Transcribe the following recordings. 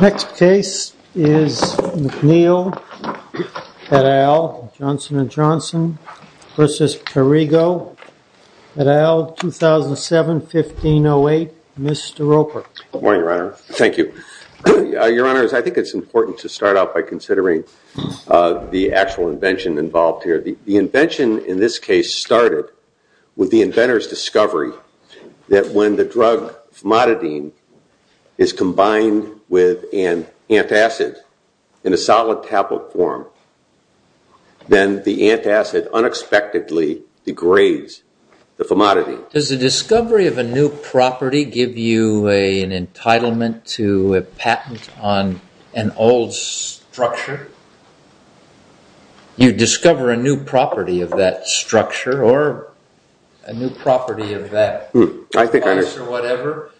Next case is McNeil-Pedale v. Johnson & Johnson McNeil-PPC v. Perrigo, 2007-15-08, Mr. Roper Does the discovery of a new property give you an entitlement to a patent on an old structure? You discover a new property of that structure or a new property of that place or whatever,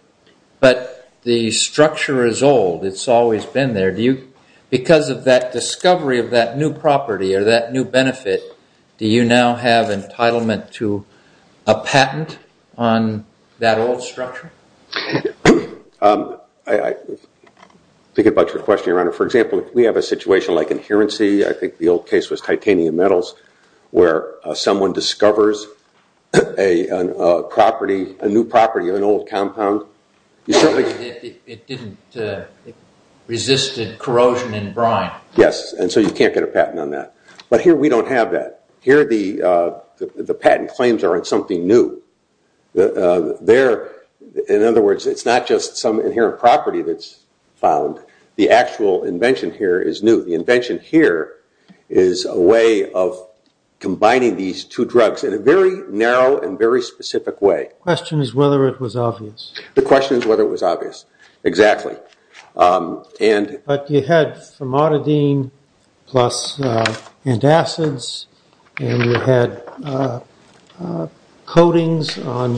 but the structure is old, it's always been there. Because of that discovery of that new property or that new benefit, do you now have entitlement to a patent on that old structure? I think about your question, Your Honor. For example, we have a situation like adherency, I think the old case was titanium metals, where someone discovers a property, a new property of an old compound. It didn't resist corrosion and brine. Yes, and so you can't get a patent on that. But here we don't have that. Here the patent claims are on something new. In other words, it's not just some inherent property that's found. The actual invention here is new. So the invention here is a way of combining these two drugs in a very narrow and very specific way. The question is whether it was obvious. The question is whether it was obvious, exactly. But you had formaldehyde plus antacids, and you had coatings on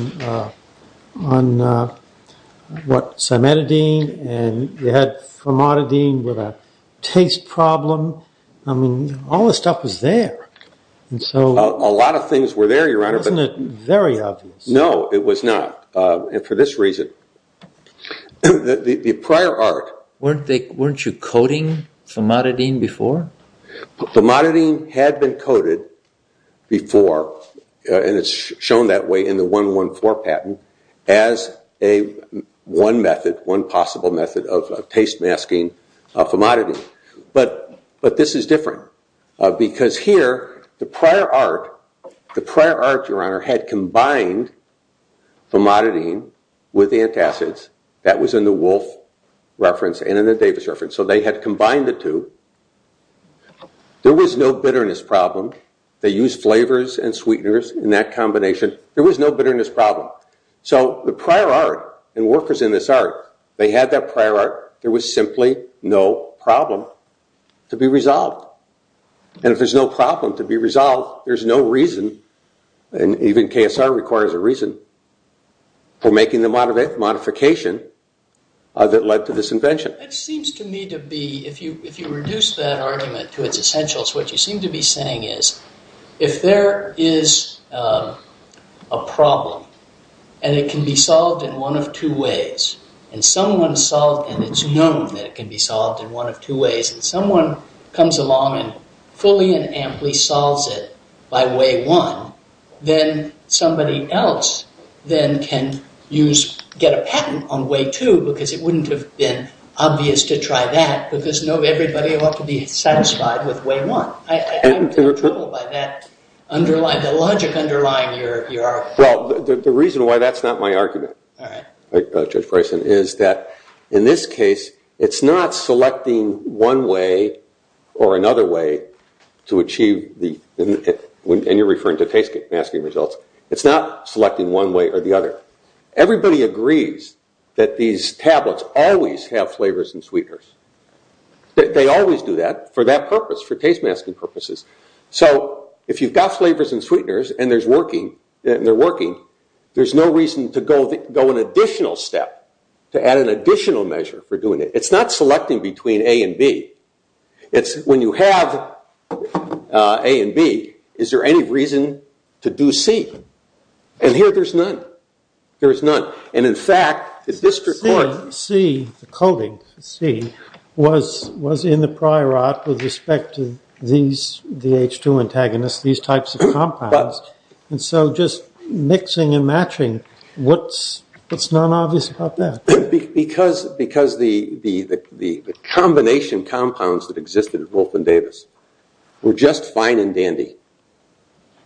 cimetidine, and you had formaldehyde with a taste problem. I mean, all the stuff was there. A lot of things were there, Your Honor. Wasn't it very obvious? No, it was not, and for this reason. The prior art. Weren't you coating formaldehyde before? Formaldehyde had been coated before, and it's shown that way in the 114 patent, as one method, one possible method of taste masking formaldehyde. But this is different because here the prior art, Your Honor, had combined formaldehyde with antacids. That was in the Wolf reference and in the Davis reference. So they had combined the two. There was no bitterness problem. They used flavors and sweeteners in that combination. There was no bitterness problem. So the prior art and workers in this art, they had that prior art. There was simply no problem to be resolved. And if there's no problem to be resolved, there's no reason, and even KSR requires a reason, for making the modification that led to this invention. It seems to me to be, if you reduce that argument to its essentials, what you seem to be saying is if there is a problem and it can be solved in one of two ways, and it's known that it can be solved in one of two ways, and someone comes along and fully and amply solves it by way one, then somebody else then can get a patent on way two because it wouldn't have been obvious to try that because everybody ought to be satisfied with way one. I'm troubled by that logic underlying your argument. Well, the reason why that's not my argument, Judge Bryson, is that in this case it's not selecting one way or another way to achieve, and you're referring to taste masking results, it's not selecting one way or the other. Everybody agrees that these tablets always have flavors and sweeteners. They always do that for that purpose, for taste masking purposes. So if you've got flavors and sweeteners and they're working, there's no reason to go an additional step, to add an additional measure for doing it. It's not selecting between A and B. When you have A and B, is there any reason to do C? And here there's none. And, in fact, the district court... C, the coding for C, was in the prior art with respect to these, the H2 antagonists, these types of compounds. And so just mixing and matching, what's not obvious about that? Because the combination compounds that existed at Wolf and Davis were just fine and dandy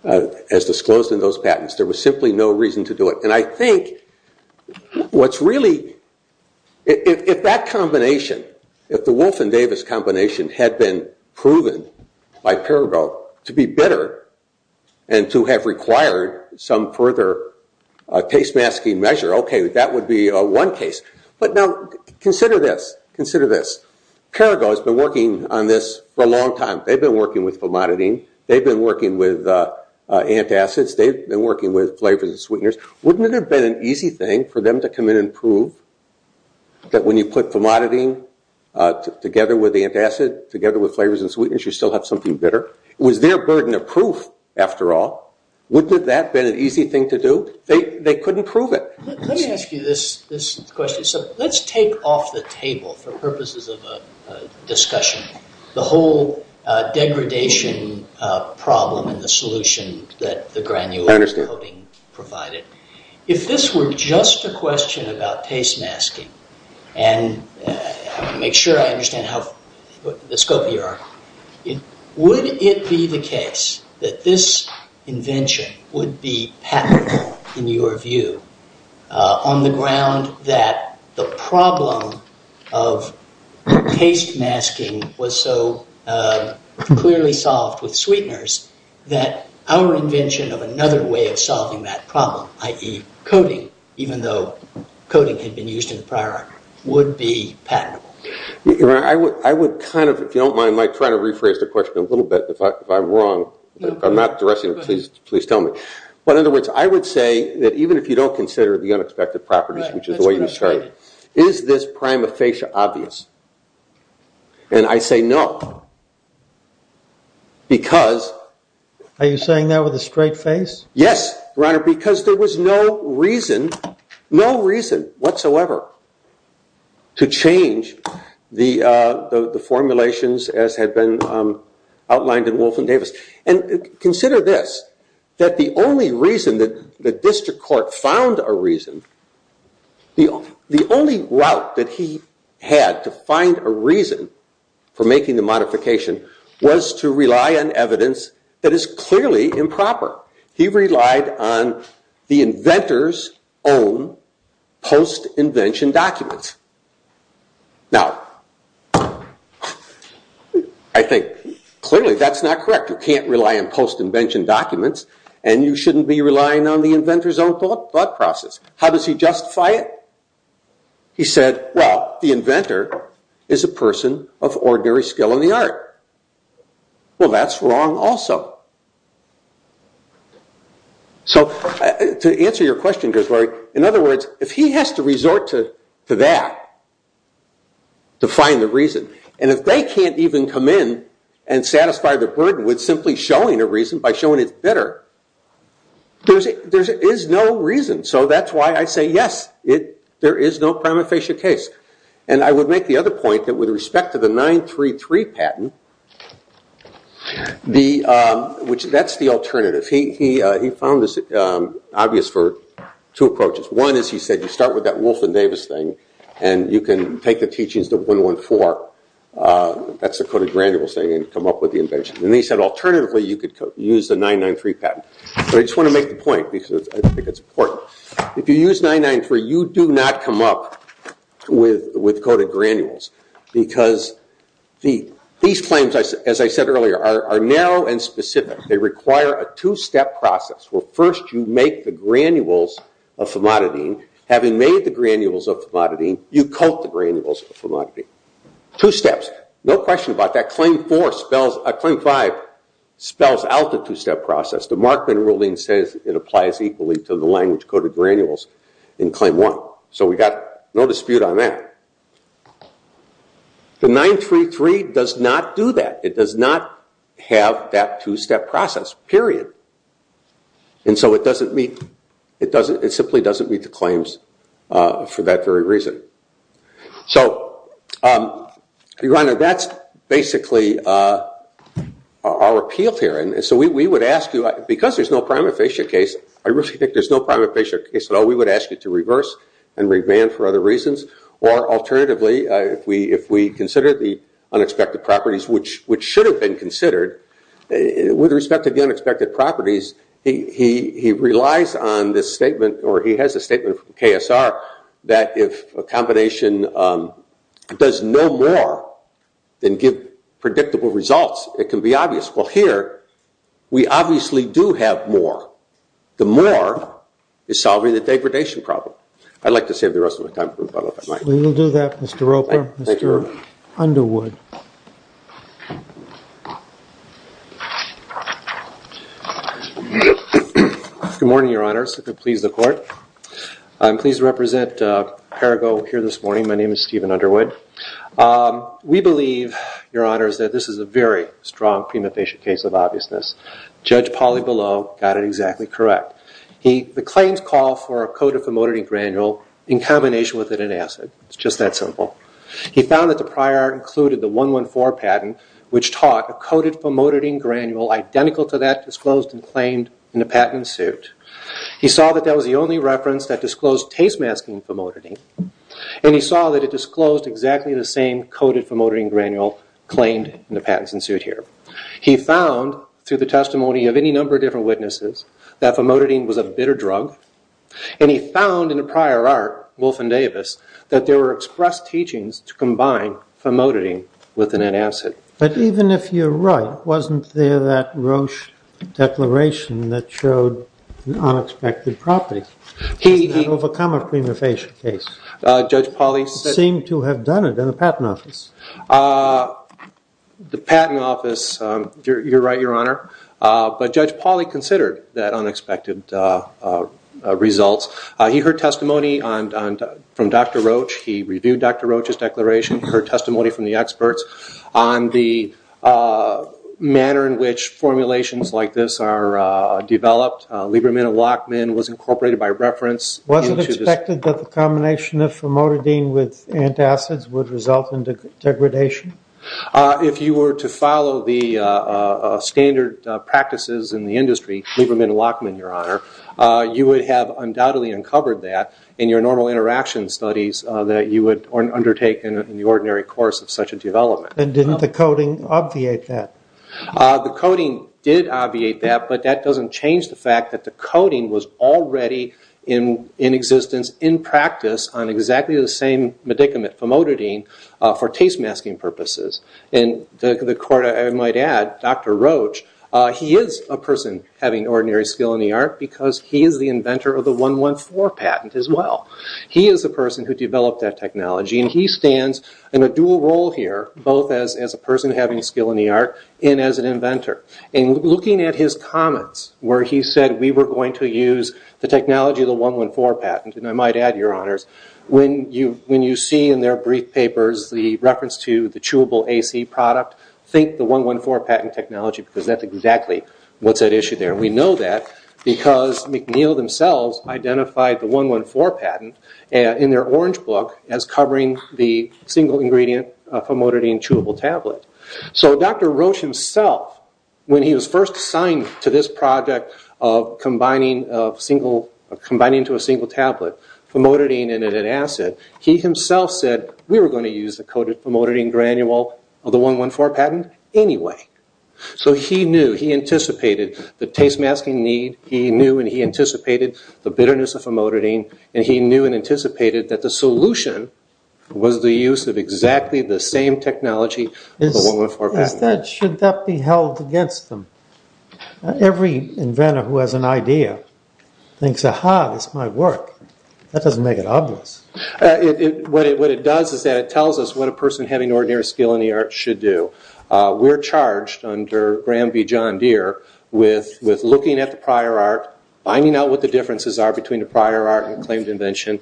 as disclosed in those patents. There was simply no reason to do it. And I think what's really... If that combination, if the Wolf and Davis combination, had been proven by Parago to be bitter and to have required some further taste masking measure, okay, that would be one case. But now consider this. Parago has been working on this for a long time. They've been working with Fomodidine. They've been working with antacids. They've been working with flavors and sweeteners. Wouldn't it have been an easy thing for them to come in and prove that when you put Fomodidine together with antacid, together with flavors and sweeteners, you still have something bitter? It was their burden of proof, after all. Wouldn't that have been an easy thing to do? They couldn't prove it. Let me ask you this question. Let's take off the table, for purposes of a discussion, the whole degradation problem and the solution that the granular coating provided. If this were just a question about taste masking, and I want to make sure I understand the scope of your argument, would it be the case that this invention would be patentable, in your view, on the ground that the problem of taste masking was so clearly solved with sweeteners that our invention of another way of solving that problem, i.e., coating, even though coating had been used in the prior arc, would be patentable? I would kind of, if you don't mind, try to rephrase the question a little bit, if I'm wrong. If I'm not addressing it, please tell me. But, in other words, I would say that, even if you don't consider the unexpected properties, which is the way you started, is this prima facie obvious? And I say no, because... Are you saying that with a straight face? Yes, Your Honor, because there was no reason, no reason whatsoever, to change the formulations as had been outlined in Wolf and Davis. And consider this, that the only reason that the district court found a reason, the only route that he had to find a reason for making the modification was to rely on evidence that is clearly improper. He relied on the inventor's own post-invention documents. Now, I think, clearly, that's not correct. You can't rely on post-invention documents, and you shouldn't be relying on the inventor's own thought process. How does he justify it? He said, well, the inventor is a person of ordinary skill in the art. Well, that's wrong also. So, to answer your question, in other words, if he has to resort to that, to find the reason, and if they can't even come in and satisfy the burden with simply showing a reason, by showing it's better, there is no reason. So that's why I say, yes, there is no prima facie case. And I would make the other point, that with respect to the 933 patent, that's the alternative. He found this obvious for two approaches. One is, he said, you start with that Wolf and Davis thing, and you can take the teachings of 114, that's the coded granules thing, and come up with the invention. And he said, alternatively, you could use the 993 patent. But I just want to make the point, because I think it's important. If you use 993, you do not come up with coded granules, because these claims, as I said earlier, are narrow and specific. They require a two-step process, where first you make the granules of famadidine, having made the granules of famadidine, you coat the granules of famadidine. Two steps. No question about that. Claim five spells out the two-step process. The Markman ruling says it applies equally to the language-coded granules in claim one. So we've got no dispute on that. The 933 does not do that. It does not have that two-step process. Period. And so it simply doesn't meet the claims for that very reason. So, Your Honor, that's basically our appeal here. So we would ask you, because there's no prima facie case, I really think there's no prima facie case at all, we would ask you to reverse and revamp for other reasons. Or alternatively, if we consider the unexpected properties, which should have been considered, with respect to the unexpected properties, he relies on this statement, or he has a statement from KSR, that if a combination does no more than give predictable results, it can be obvious. Well, here, we obviously do have more. The more is solving the degradation problem. I'd like to save the rest of my time. We will do that, Mr. Roper. Thank you, Your Honor. Mr. Underwood. Good morning, Your Honor. So please, the Court. I'm pleased to represent Parago here this morning. My name is Stephen Underwood. We believe, Your Honor, that this is a very strong prima facie case of obviousness. Judge Pauley-Below got it exactly correct. The claims call for a code of familiarity granule in combination with it in acid. It's just that simple. He found that the prior art included the 114 patent, which taught a coded famotidine granule identical to that disclosed and claimed in the patent suit. He saw that that was the only reference that disclosed taste masking famotidine, and he saw that it disclosed exactly the same coded famotidine granule claimed in the patents in suit here. He found, through the testimony of any number of different witnesses, that famotidine was a bitter drug, and he found in the prior art, Wolf and Davis, that there were express teachings to combine famotidine with an antacid. But even if you're right, wasn't there that Roche declaration that showed an unexpected property? He didn't overcome a prima facie case. Judge Pauley-Below-Seemed to have done it in the patent office. The patent office, you're right, Your Honor, but Judge Pauley-Below-Below considered that unexpected results. He heard testimony from Dr. Roche. He reviewed Dr. Roche's declaration. He heard testimony from the experts on the manner in which formulations like this are developed. Libraminolocmin was incorporated by reference. Was it expected that the combination of famotidine with antacids would result in degradation? If you were to follow the standard practices in the industry, Libraminolocmin, Your Honor, you would have undoubtedly uncovered that in your normal interaction studies that you would undertake in the ordinary course of such a development. And didn't the coding obviate that? The coding did obviate that, but that doesn't change the fact that the coding was already in existence, in practice, on exactly the same medicament, famotidine, for taste masking purposes. And the court, I might add, Dr. Roche, he is a person having ordinary skill in the art because he is the inventor of the 114 patent as well. He is the person who developed that technology and he stands in a dual role here, both as a person having skill in the art and as an inventor. And looking at his comments where he said we were going to use the technology of the 114 patent, and I might add, Your Honors, when you see in their brief papers the reference to the chewable AC product, think the 114 patent technology because that's exactly what's at issue there. We know that because McNeill themselves identified the 114 patent in their orange book as covering the single ingredient famotidine chewable tablet. So Dr. Roche himself, when he was first assigned to this project of combining to a single tablet famotidine in an acid, he himself said we were going to use the coded famotidine granule of the 114 patent anyway. So he knew, he anticipated the taste masking need, he knew and he anticipated the bitterness of famotidine, and he knew and anticipated that the solution was the use of exactly the same technology as the 114 patent. Should that be held against them? Every inventor who has an idea thinks, Aha, this might work. That doesn't make it obvious. What it does is that it tells us what a person having ordinary skill in the art should do. We're charged under Graham v. John Deere with looking at the prior art, finding out what the differences are between the prior art and the claimed invention,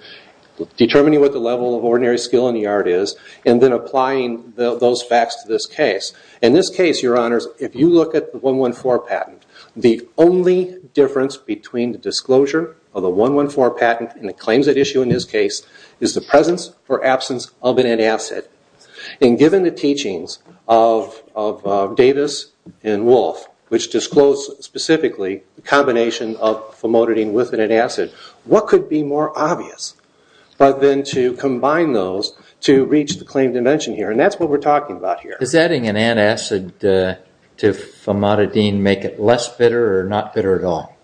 determining what the level of ordinary skill in the art is, and then applying those facts to this case. In this case, Your Honors, if you look at the 114 patent, the only difference between the disclosure of the 114 patent and the claims at issue in this case is the presence or absence of an antacid. Given the teachings of Davis and Wolf, which disclosed specifically the combination of famotidine with an antacid, what could be more obvious than to combine those to reach the claimed invention here? That's what we're talking about here. Does adding an antacid to famotidine make it less bitter or not bitter at all?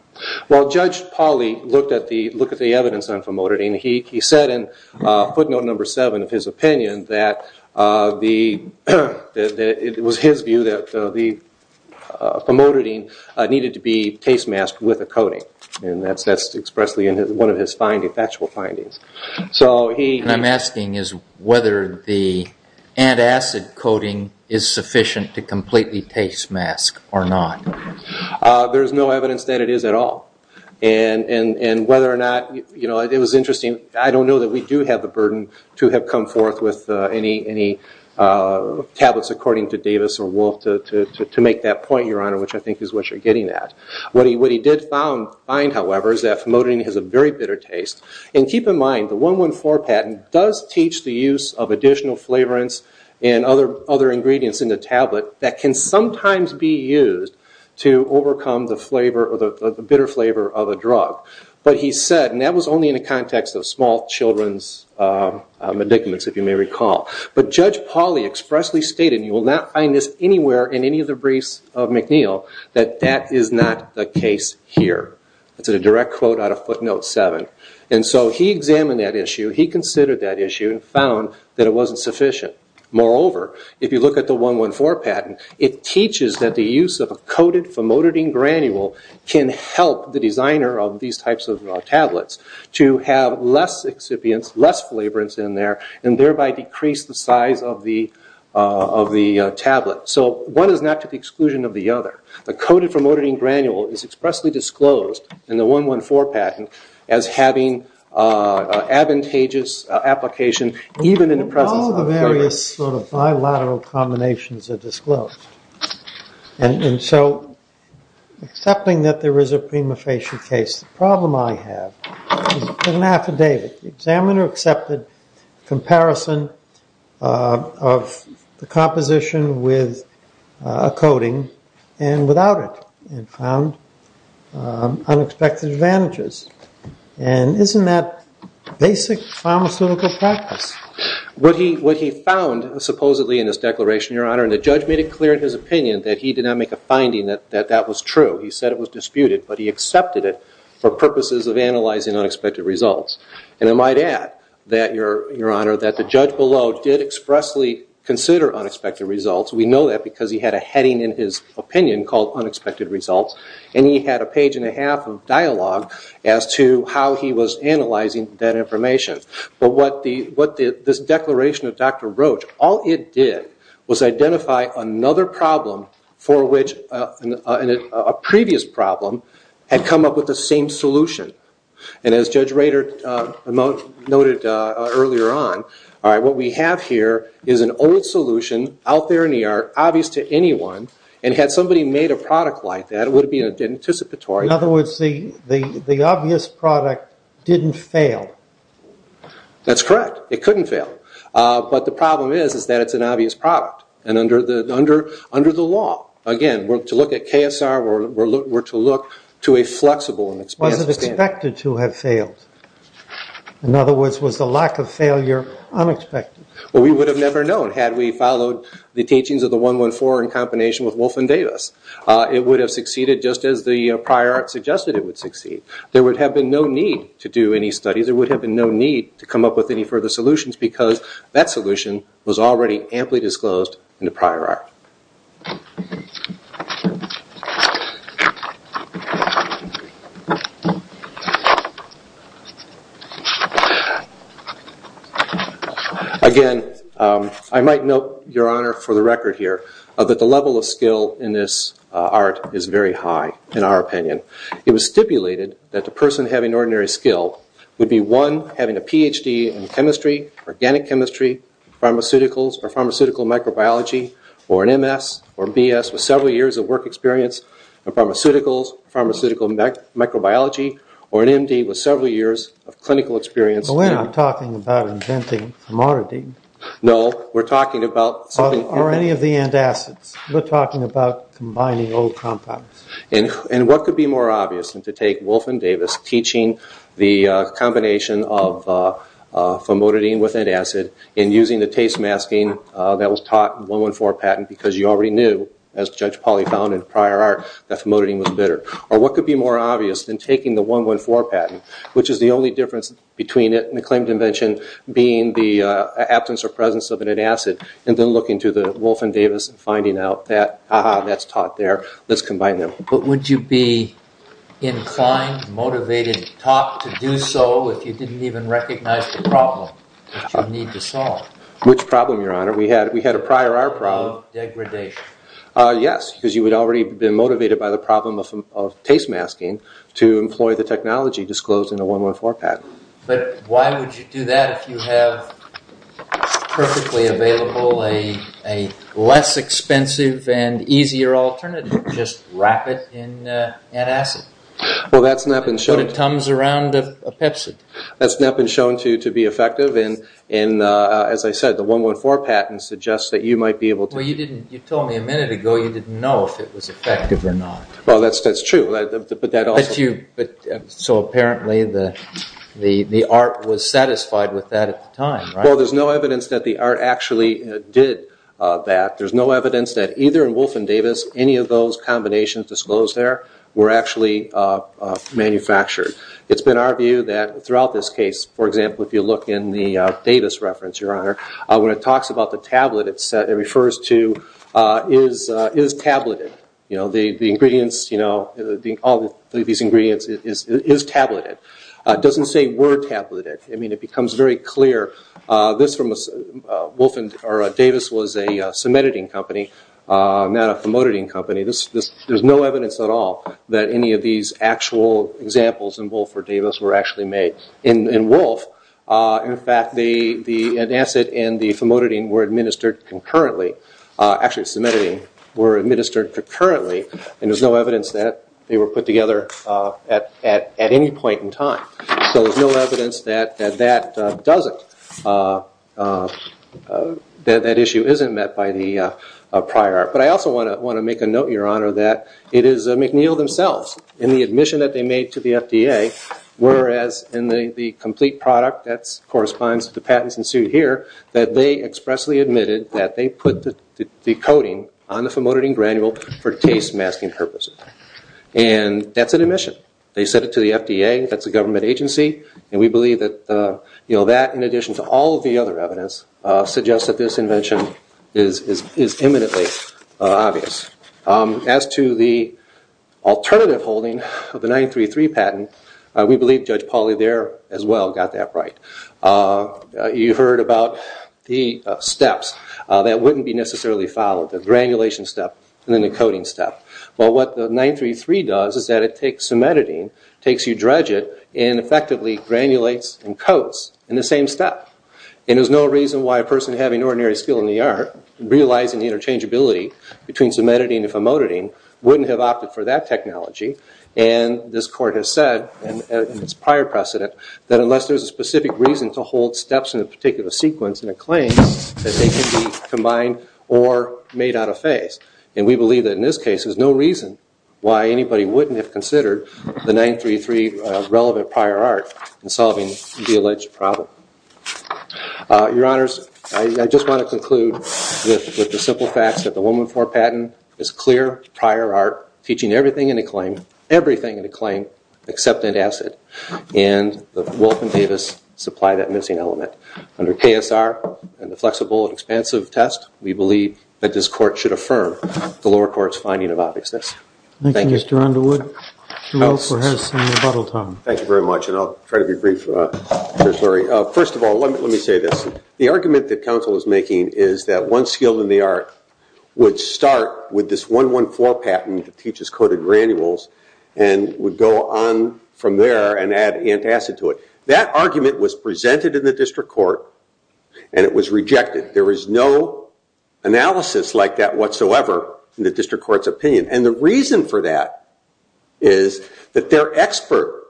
Judge Pauly looked at the evidence on famotidine. He said in footnote number seven of his opinion that it was his view that the famotidine needed to be taste-masked with a coating. That's expressly in one of his factual findings. What I'm asking is whether the antacid coating is sufficient to completely taste-mask or not. There's no evidence that it is at all. Whether or not it was interesting, I don't know that we do have the burden to have come forth with any tablets according to Davis or Wolf to make that point, Your Honor, which I think is what you're getting at. What he did find, however, is that famotidine has a very bitter taste. Keep in mind, the 114 patent does teach the use of additional flavorants and other ingredients in the tablet that can sometimes be used to overcome the bitter flavor of a drug. But he said, and that was only in the context of small children's medicaments, if you may recall, but Judge Pauly expressly stated, and you will not find this anywhere in any of the briefs of McNeil, that that is not the case here. That's a direct quote out of footnote seven. And so he examined that issue. He considered that issue and found that it wasn't sufficient. Moreover, if you look at the 114 patent, it teaches that the use of a coated famotidine granule can help the designer of these types of tablets to have less excipients, less flavorants in there, and thereby decrease the size of the tablet. So one is not to the exclusion of the other. The coated famotidine granule is expressly disclosed in the 114 patent as having advantageous application, even in the presence of various sort of bilateral combinations are disclosed. And so, accepting that there is a prima facie case, the problem I have is an affidavit. The examiner accepted comparison of the composition with a coating and without it and found unexpected advantages. And isn't that basic pharmaceutical practice? What he found supposedly in this declaration, Your Honor, and the judge made it clear in his opinion that he did not make a finding that that was true. He said it was disputed, but he accepted it for purposes of analyzing unexpected results. And I might add that, Your Honor, that the judge below did expressly consider unexpected results. We know that because he had a heading in his opinion called unexpected results and he had a page and a half of dialogue as to how he was analyzing that information. But what this declaration of Dr. Roach, all it did was identify another problem for which a previous problem had come up with the same solution. And as Judge Rader noted earlier on, what we have here is an old solution out there in the yard, obvious to anyone, and had somebody made a product like that, it would have been anticipatory. In other words, the obvious product didn't fail. That's correct. It couldn't fail. But the problem is that it's an obvious product. And under the law, again, to look at KSR, we're to look to a flexible and expensive standard. It was expected to have failed. In other words, was the lack of failure unexpected? Well, we would have never known had we followed the teachings of the 114 in combination with Wolf and Davis. It would have succeeded just as the prior art suggested it would succeed. There would have been no need to do any studies. There would have been no need to come up with any further solutions because that solution was already amply disclosed in the prior art. Again, I might note, Your Honor, for the record here, that the level of skill in this art is very high, in our opinion. It was stipulated that the person having ordinary skill would be, one, having a Ph.D. in chemistry, organic chemistry, pharmaceuticals or pharmaceutical microbiology, or an M.S. or B.S. with several years of work experience in pharmaceuticals, pharmaceutical microbiology, or an M.D. with several years of clinical experience. We're not talking about inventing maridine. No, we're talking about... Or any of the antacids. We're talking about combining old compounds. What could be more obvious than to take Wolf and Davis teaching the combination of famotidine with antacid and using the taste masking that was taught in the 114 patent because you already knew, as Judge Pauly found in prior art, that famotidine was bitter? Or what could be more obvious than taking the 114 patent, which is the only difference between it and the claimed invention, being the absence or presence of an antacid, and then looking to the Wolf and Davis and finding out that, ha-ha, that's taught there. Let's combine them. But would you be inclined, motivated, taught to do so if you didn't even recognize the problem that you need to solve? Which problem, Your Honor? We had a prior art problem. Of degradation. Yes, because you would have already been motivated by the problem of taste masking to employ the technology disclosed in the 114 patent. But why would you do that if you have perfectly available a less expensive and easier alternative? Just wrap it in antacid. Well, that's not been shown to be effective. And as I said, the 114 patent suggests that you might be able to... Well, you told me a minute ago you didn't know if it was effective or not. Well, that's true, but that also... So apparently the art was satisfied with that at the time, right? Well, there's no evidence that the art actually did that. There's no evidence that either in Wolf and Davis any of those combinations disclosed there were actually manufactured. It's been our view that throughout this case, for example, if you look in the Davis reference, Your Honor, when it talks about the tablet it refers to is tableted. The ingredients, all of these ingredients is tableted. It doesn't say were tableted. I mean, it becomes very clear. This from Wolf and Davis was a cementiting company, not a famotidine company. There's no evidence at all that any of these actual examples in Wolf or Davis were actually made. In Wolf, in fact, the antacid and the famotidine were administered concurrently. Actually, cementiting were administered concurrently, and there's no evidence that they were put together at any point in time. So there's no evidence that that doesn't, that that issue isn't met by the prior art. But I also want to make a note, Your Honor, that it is McNeil themselves in the admission that they made to the FDA, whereas in the complete product that corresponds to the patents ensued here, that they expressly admitted that they put the coating on the famotidine granule for taste masking purposes. And that's an admission. They said it to the FDA, that's a government agency, and we believe that that in addition to all of the other evidence suggests that this invention is imminently obvious. As to the alternative holding of the 933 patent, we believe Judge Pauly there as well got that right. You heard about the steps that wouldn't be necessarily followed, the granulation step and then the coating step. Well, what the 933 does is that it takes cementitine, takes eudregate, and effectively granulates and coats in the same step. And there's no reason why a person having ordinary skill in the art, realizing the interchangeability between cementitine and famotidine, wouldn't have opted for that technology. And this court has said in its prior precedent that unless there's a specific reason to hold steps in a particular sequence in a claim, that they can be combined or made out of phase. And we believe that in this case there's no reason why anybody wouldn't have considered the 933 relevant prior art in solving the alleged problem. Your Honors, I just want to conclude with the simple facts that the 114 patent is clear prior art, teaching everything in a claim, everything in a claim, except antacid. And Wolf and Davis supply that missing element. Under KSR and the flexible and expansive test, we believe that this court should affirm the lower court's finding of obviousness. Thank you. Thank you, Mr. Underwood. Thank you very much, and I'll try to be brief. First of all, let me say this. The argument that counsel is making is that one skill in the art would start with this 114 patent that teaches coded granules and would go on from there and add antacid to it. That argument was presented in the district court, and it was rejected. There is no analysis like that whatsoever in the district court's opinion. And the reason for that is that their expert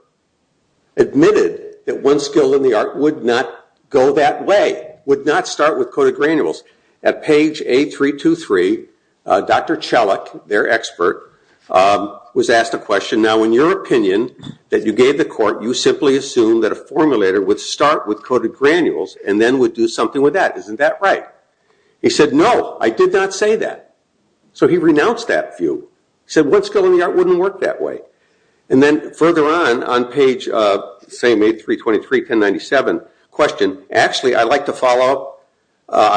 admitted that one skill in the art would not go that way, would not start with coded granules. At page A323, Dr. Chalik, their expert, was asked a question. Now, in your opinion that you gave the court, you simply assumed that a formulator would start with coded granules and then would do something with that. Isn't that right? He said, no, I did not say that. So he renounced that view. He said one skill in the art wouldn't work that way. And then further on, on page A323, 1097, question, actually, I'd like to follow up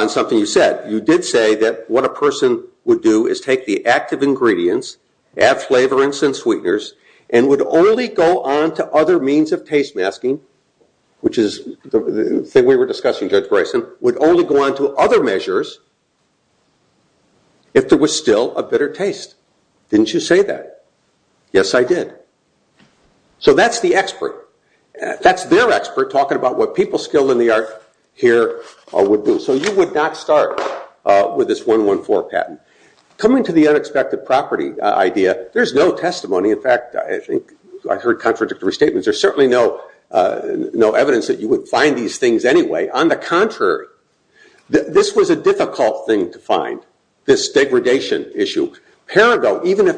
on something you said. You did say that what a person would do is take the active ingredients, add flavorants and sweeteners, and would only go on to other means of taste masking, which is the thing we were discussing, Judge Bryson, would only go on to other measures if there was still a bitter taste. Didn't you say that? Yes, I did. So that's the expert. That's their expert talking about what people skilled in the art here would do. So you would not start with this 114 patent. Coming to the unexpected property idea, there's no testimony. In fact, I think I heard contradictory statements. There's certainly no evidence that you would find these things anyway. On the contrary, this was a difficult thing to find, this degradation issue. Paradox, even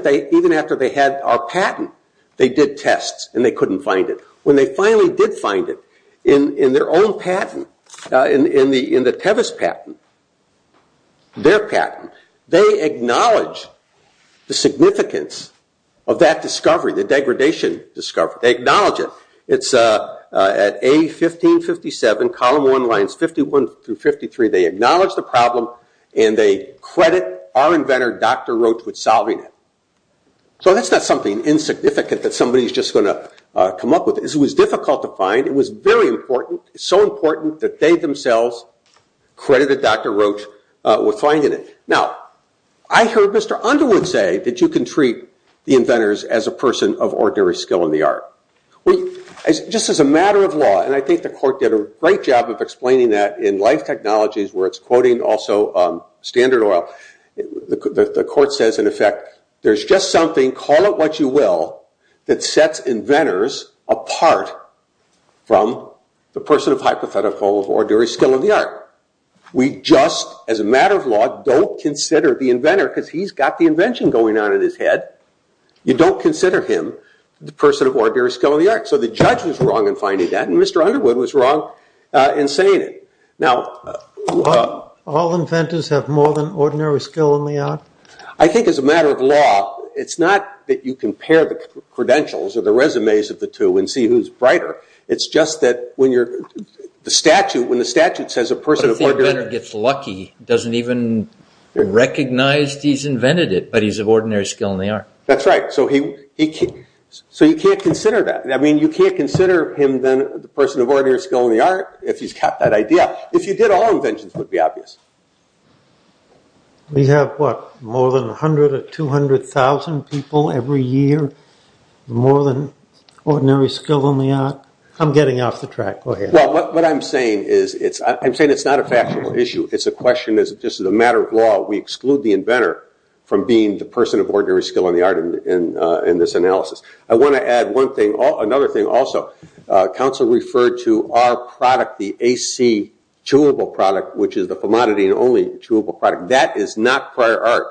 after they had our patent, they did tests and they couldn't find it. When they finally did find it in their own patent, in the Tevis patent, their patent, they acknowledge the significance of that discovery, the degradation discovery. They acknowledge it. It's at A1557, column 1, lines 51 through 53. They acknowledge the problem and they credit our inventor, Dr. Roach, with solving it. So that's not something insignificant that somebody is just going to come up with. It was difficult to find. It was very important, so important that they themselves credited Dr. Roach with finding it. Now, I heard Mr. Underwood say that you can treat the inventors as a person of ordinary skill in the art. Just as a matter of law, and I think the court did a great job of explaining that in Life Technologies, where it's quoting also Standard Oil, the court says, in effect, there's just something, call it what you will, that sets inventors apart from the person of hypothetical, of ordinary skill in the art. We just, as a matter of law, don't consider the inventor, because he's got the invention going on in his head, you don't consider him the person of ordinary skill in the art. So the judge was wrong in finding that and Mr. Underwood was wrong in saying it. All inventors have more than ordinary skill in the art? I think as a matter of law, it's not that you compare the credentials or the resumes of the two and see who's brighter. It's just that when the statute says a person of ordinary... But if the inventor gets lucky, doesn't even recognize he's invented it, but he's of ordinary skill in the art. That's right. So you can't consider that. I mean, you can't consider him the person of ordinary skill in the art if he's got that idea. If you did, all inventions would be obvious. We have, what, more than 100 or 200,000 people every year, more than ordinary skill in the art? I'm getting off the track. Go ahead. Well, what I'm saying is, I'm saying it's not a factual issue. It's a question, just as a matter of law, we exclude the inventor from being the person of ordinary skill in the art in this analysis. I want to add one thing, another thing also. Counsel referred to our product, the AC chewable product, which is the phlemonidine-only chewable product. That is not prior art.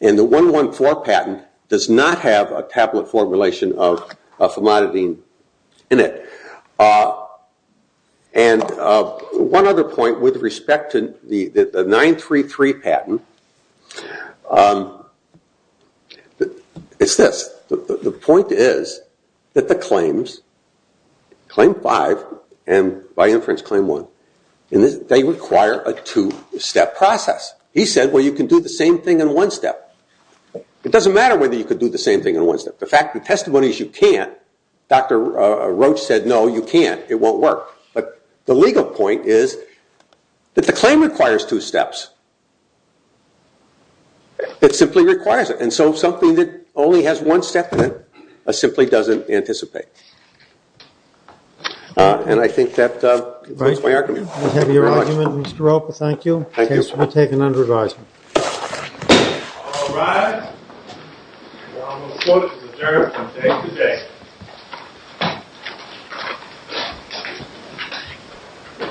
And the 114 patent does not have a tablet formulation of phlemonidine in it. And one other point with respect to the 933 patent, it's this. The point is that the claims, Claim 5 and by inference Claim 1, they require a two-step process. He said, well, you can do the same thing in one step. It doesn't matter whether you can do the same thing in one step. The fact of the testimony is you can't. Dr. Roach said, no, you can't. It won't work. But the legal point is that the claim requires two steps. It simply requires it. And so something that only has one step in it simply doesn't anticipate. And I think that concludes my argument. We have your argument, Mr. Roper. Thank you. Thank you, sir. I take it under advisement. All rise. The Honorable Court is adjourned from day to day.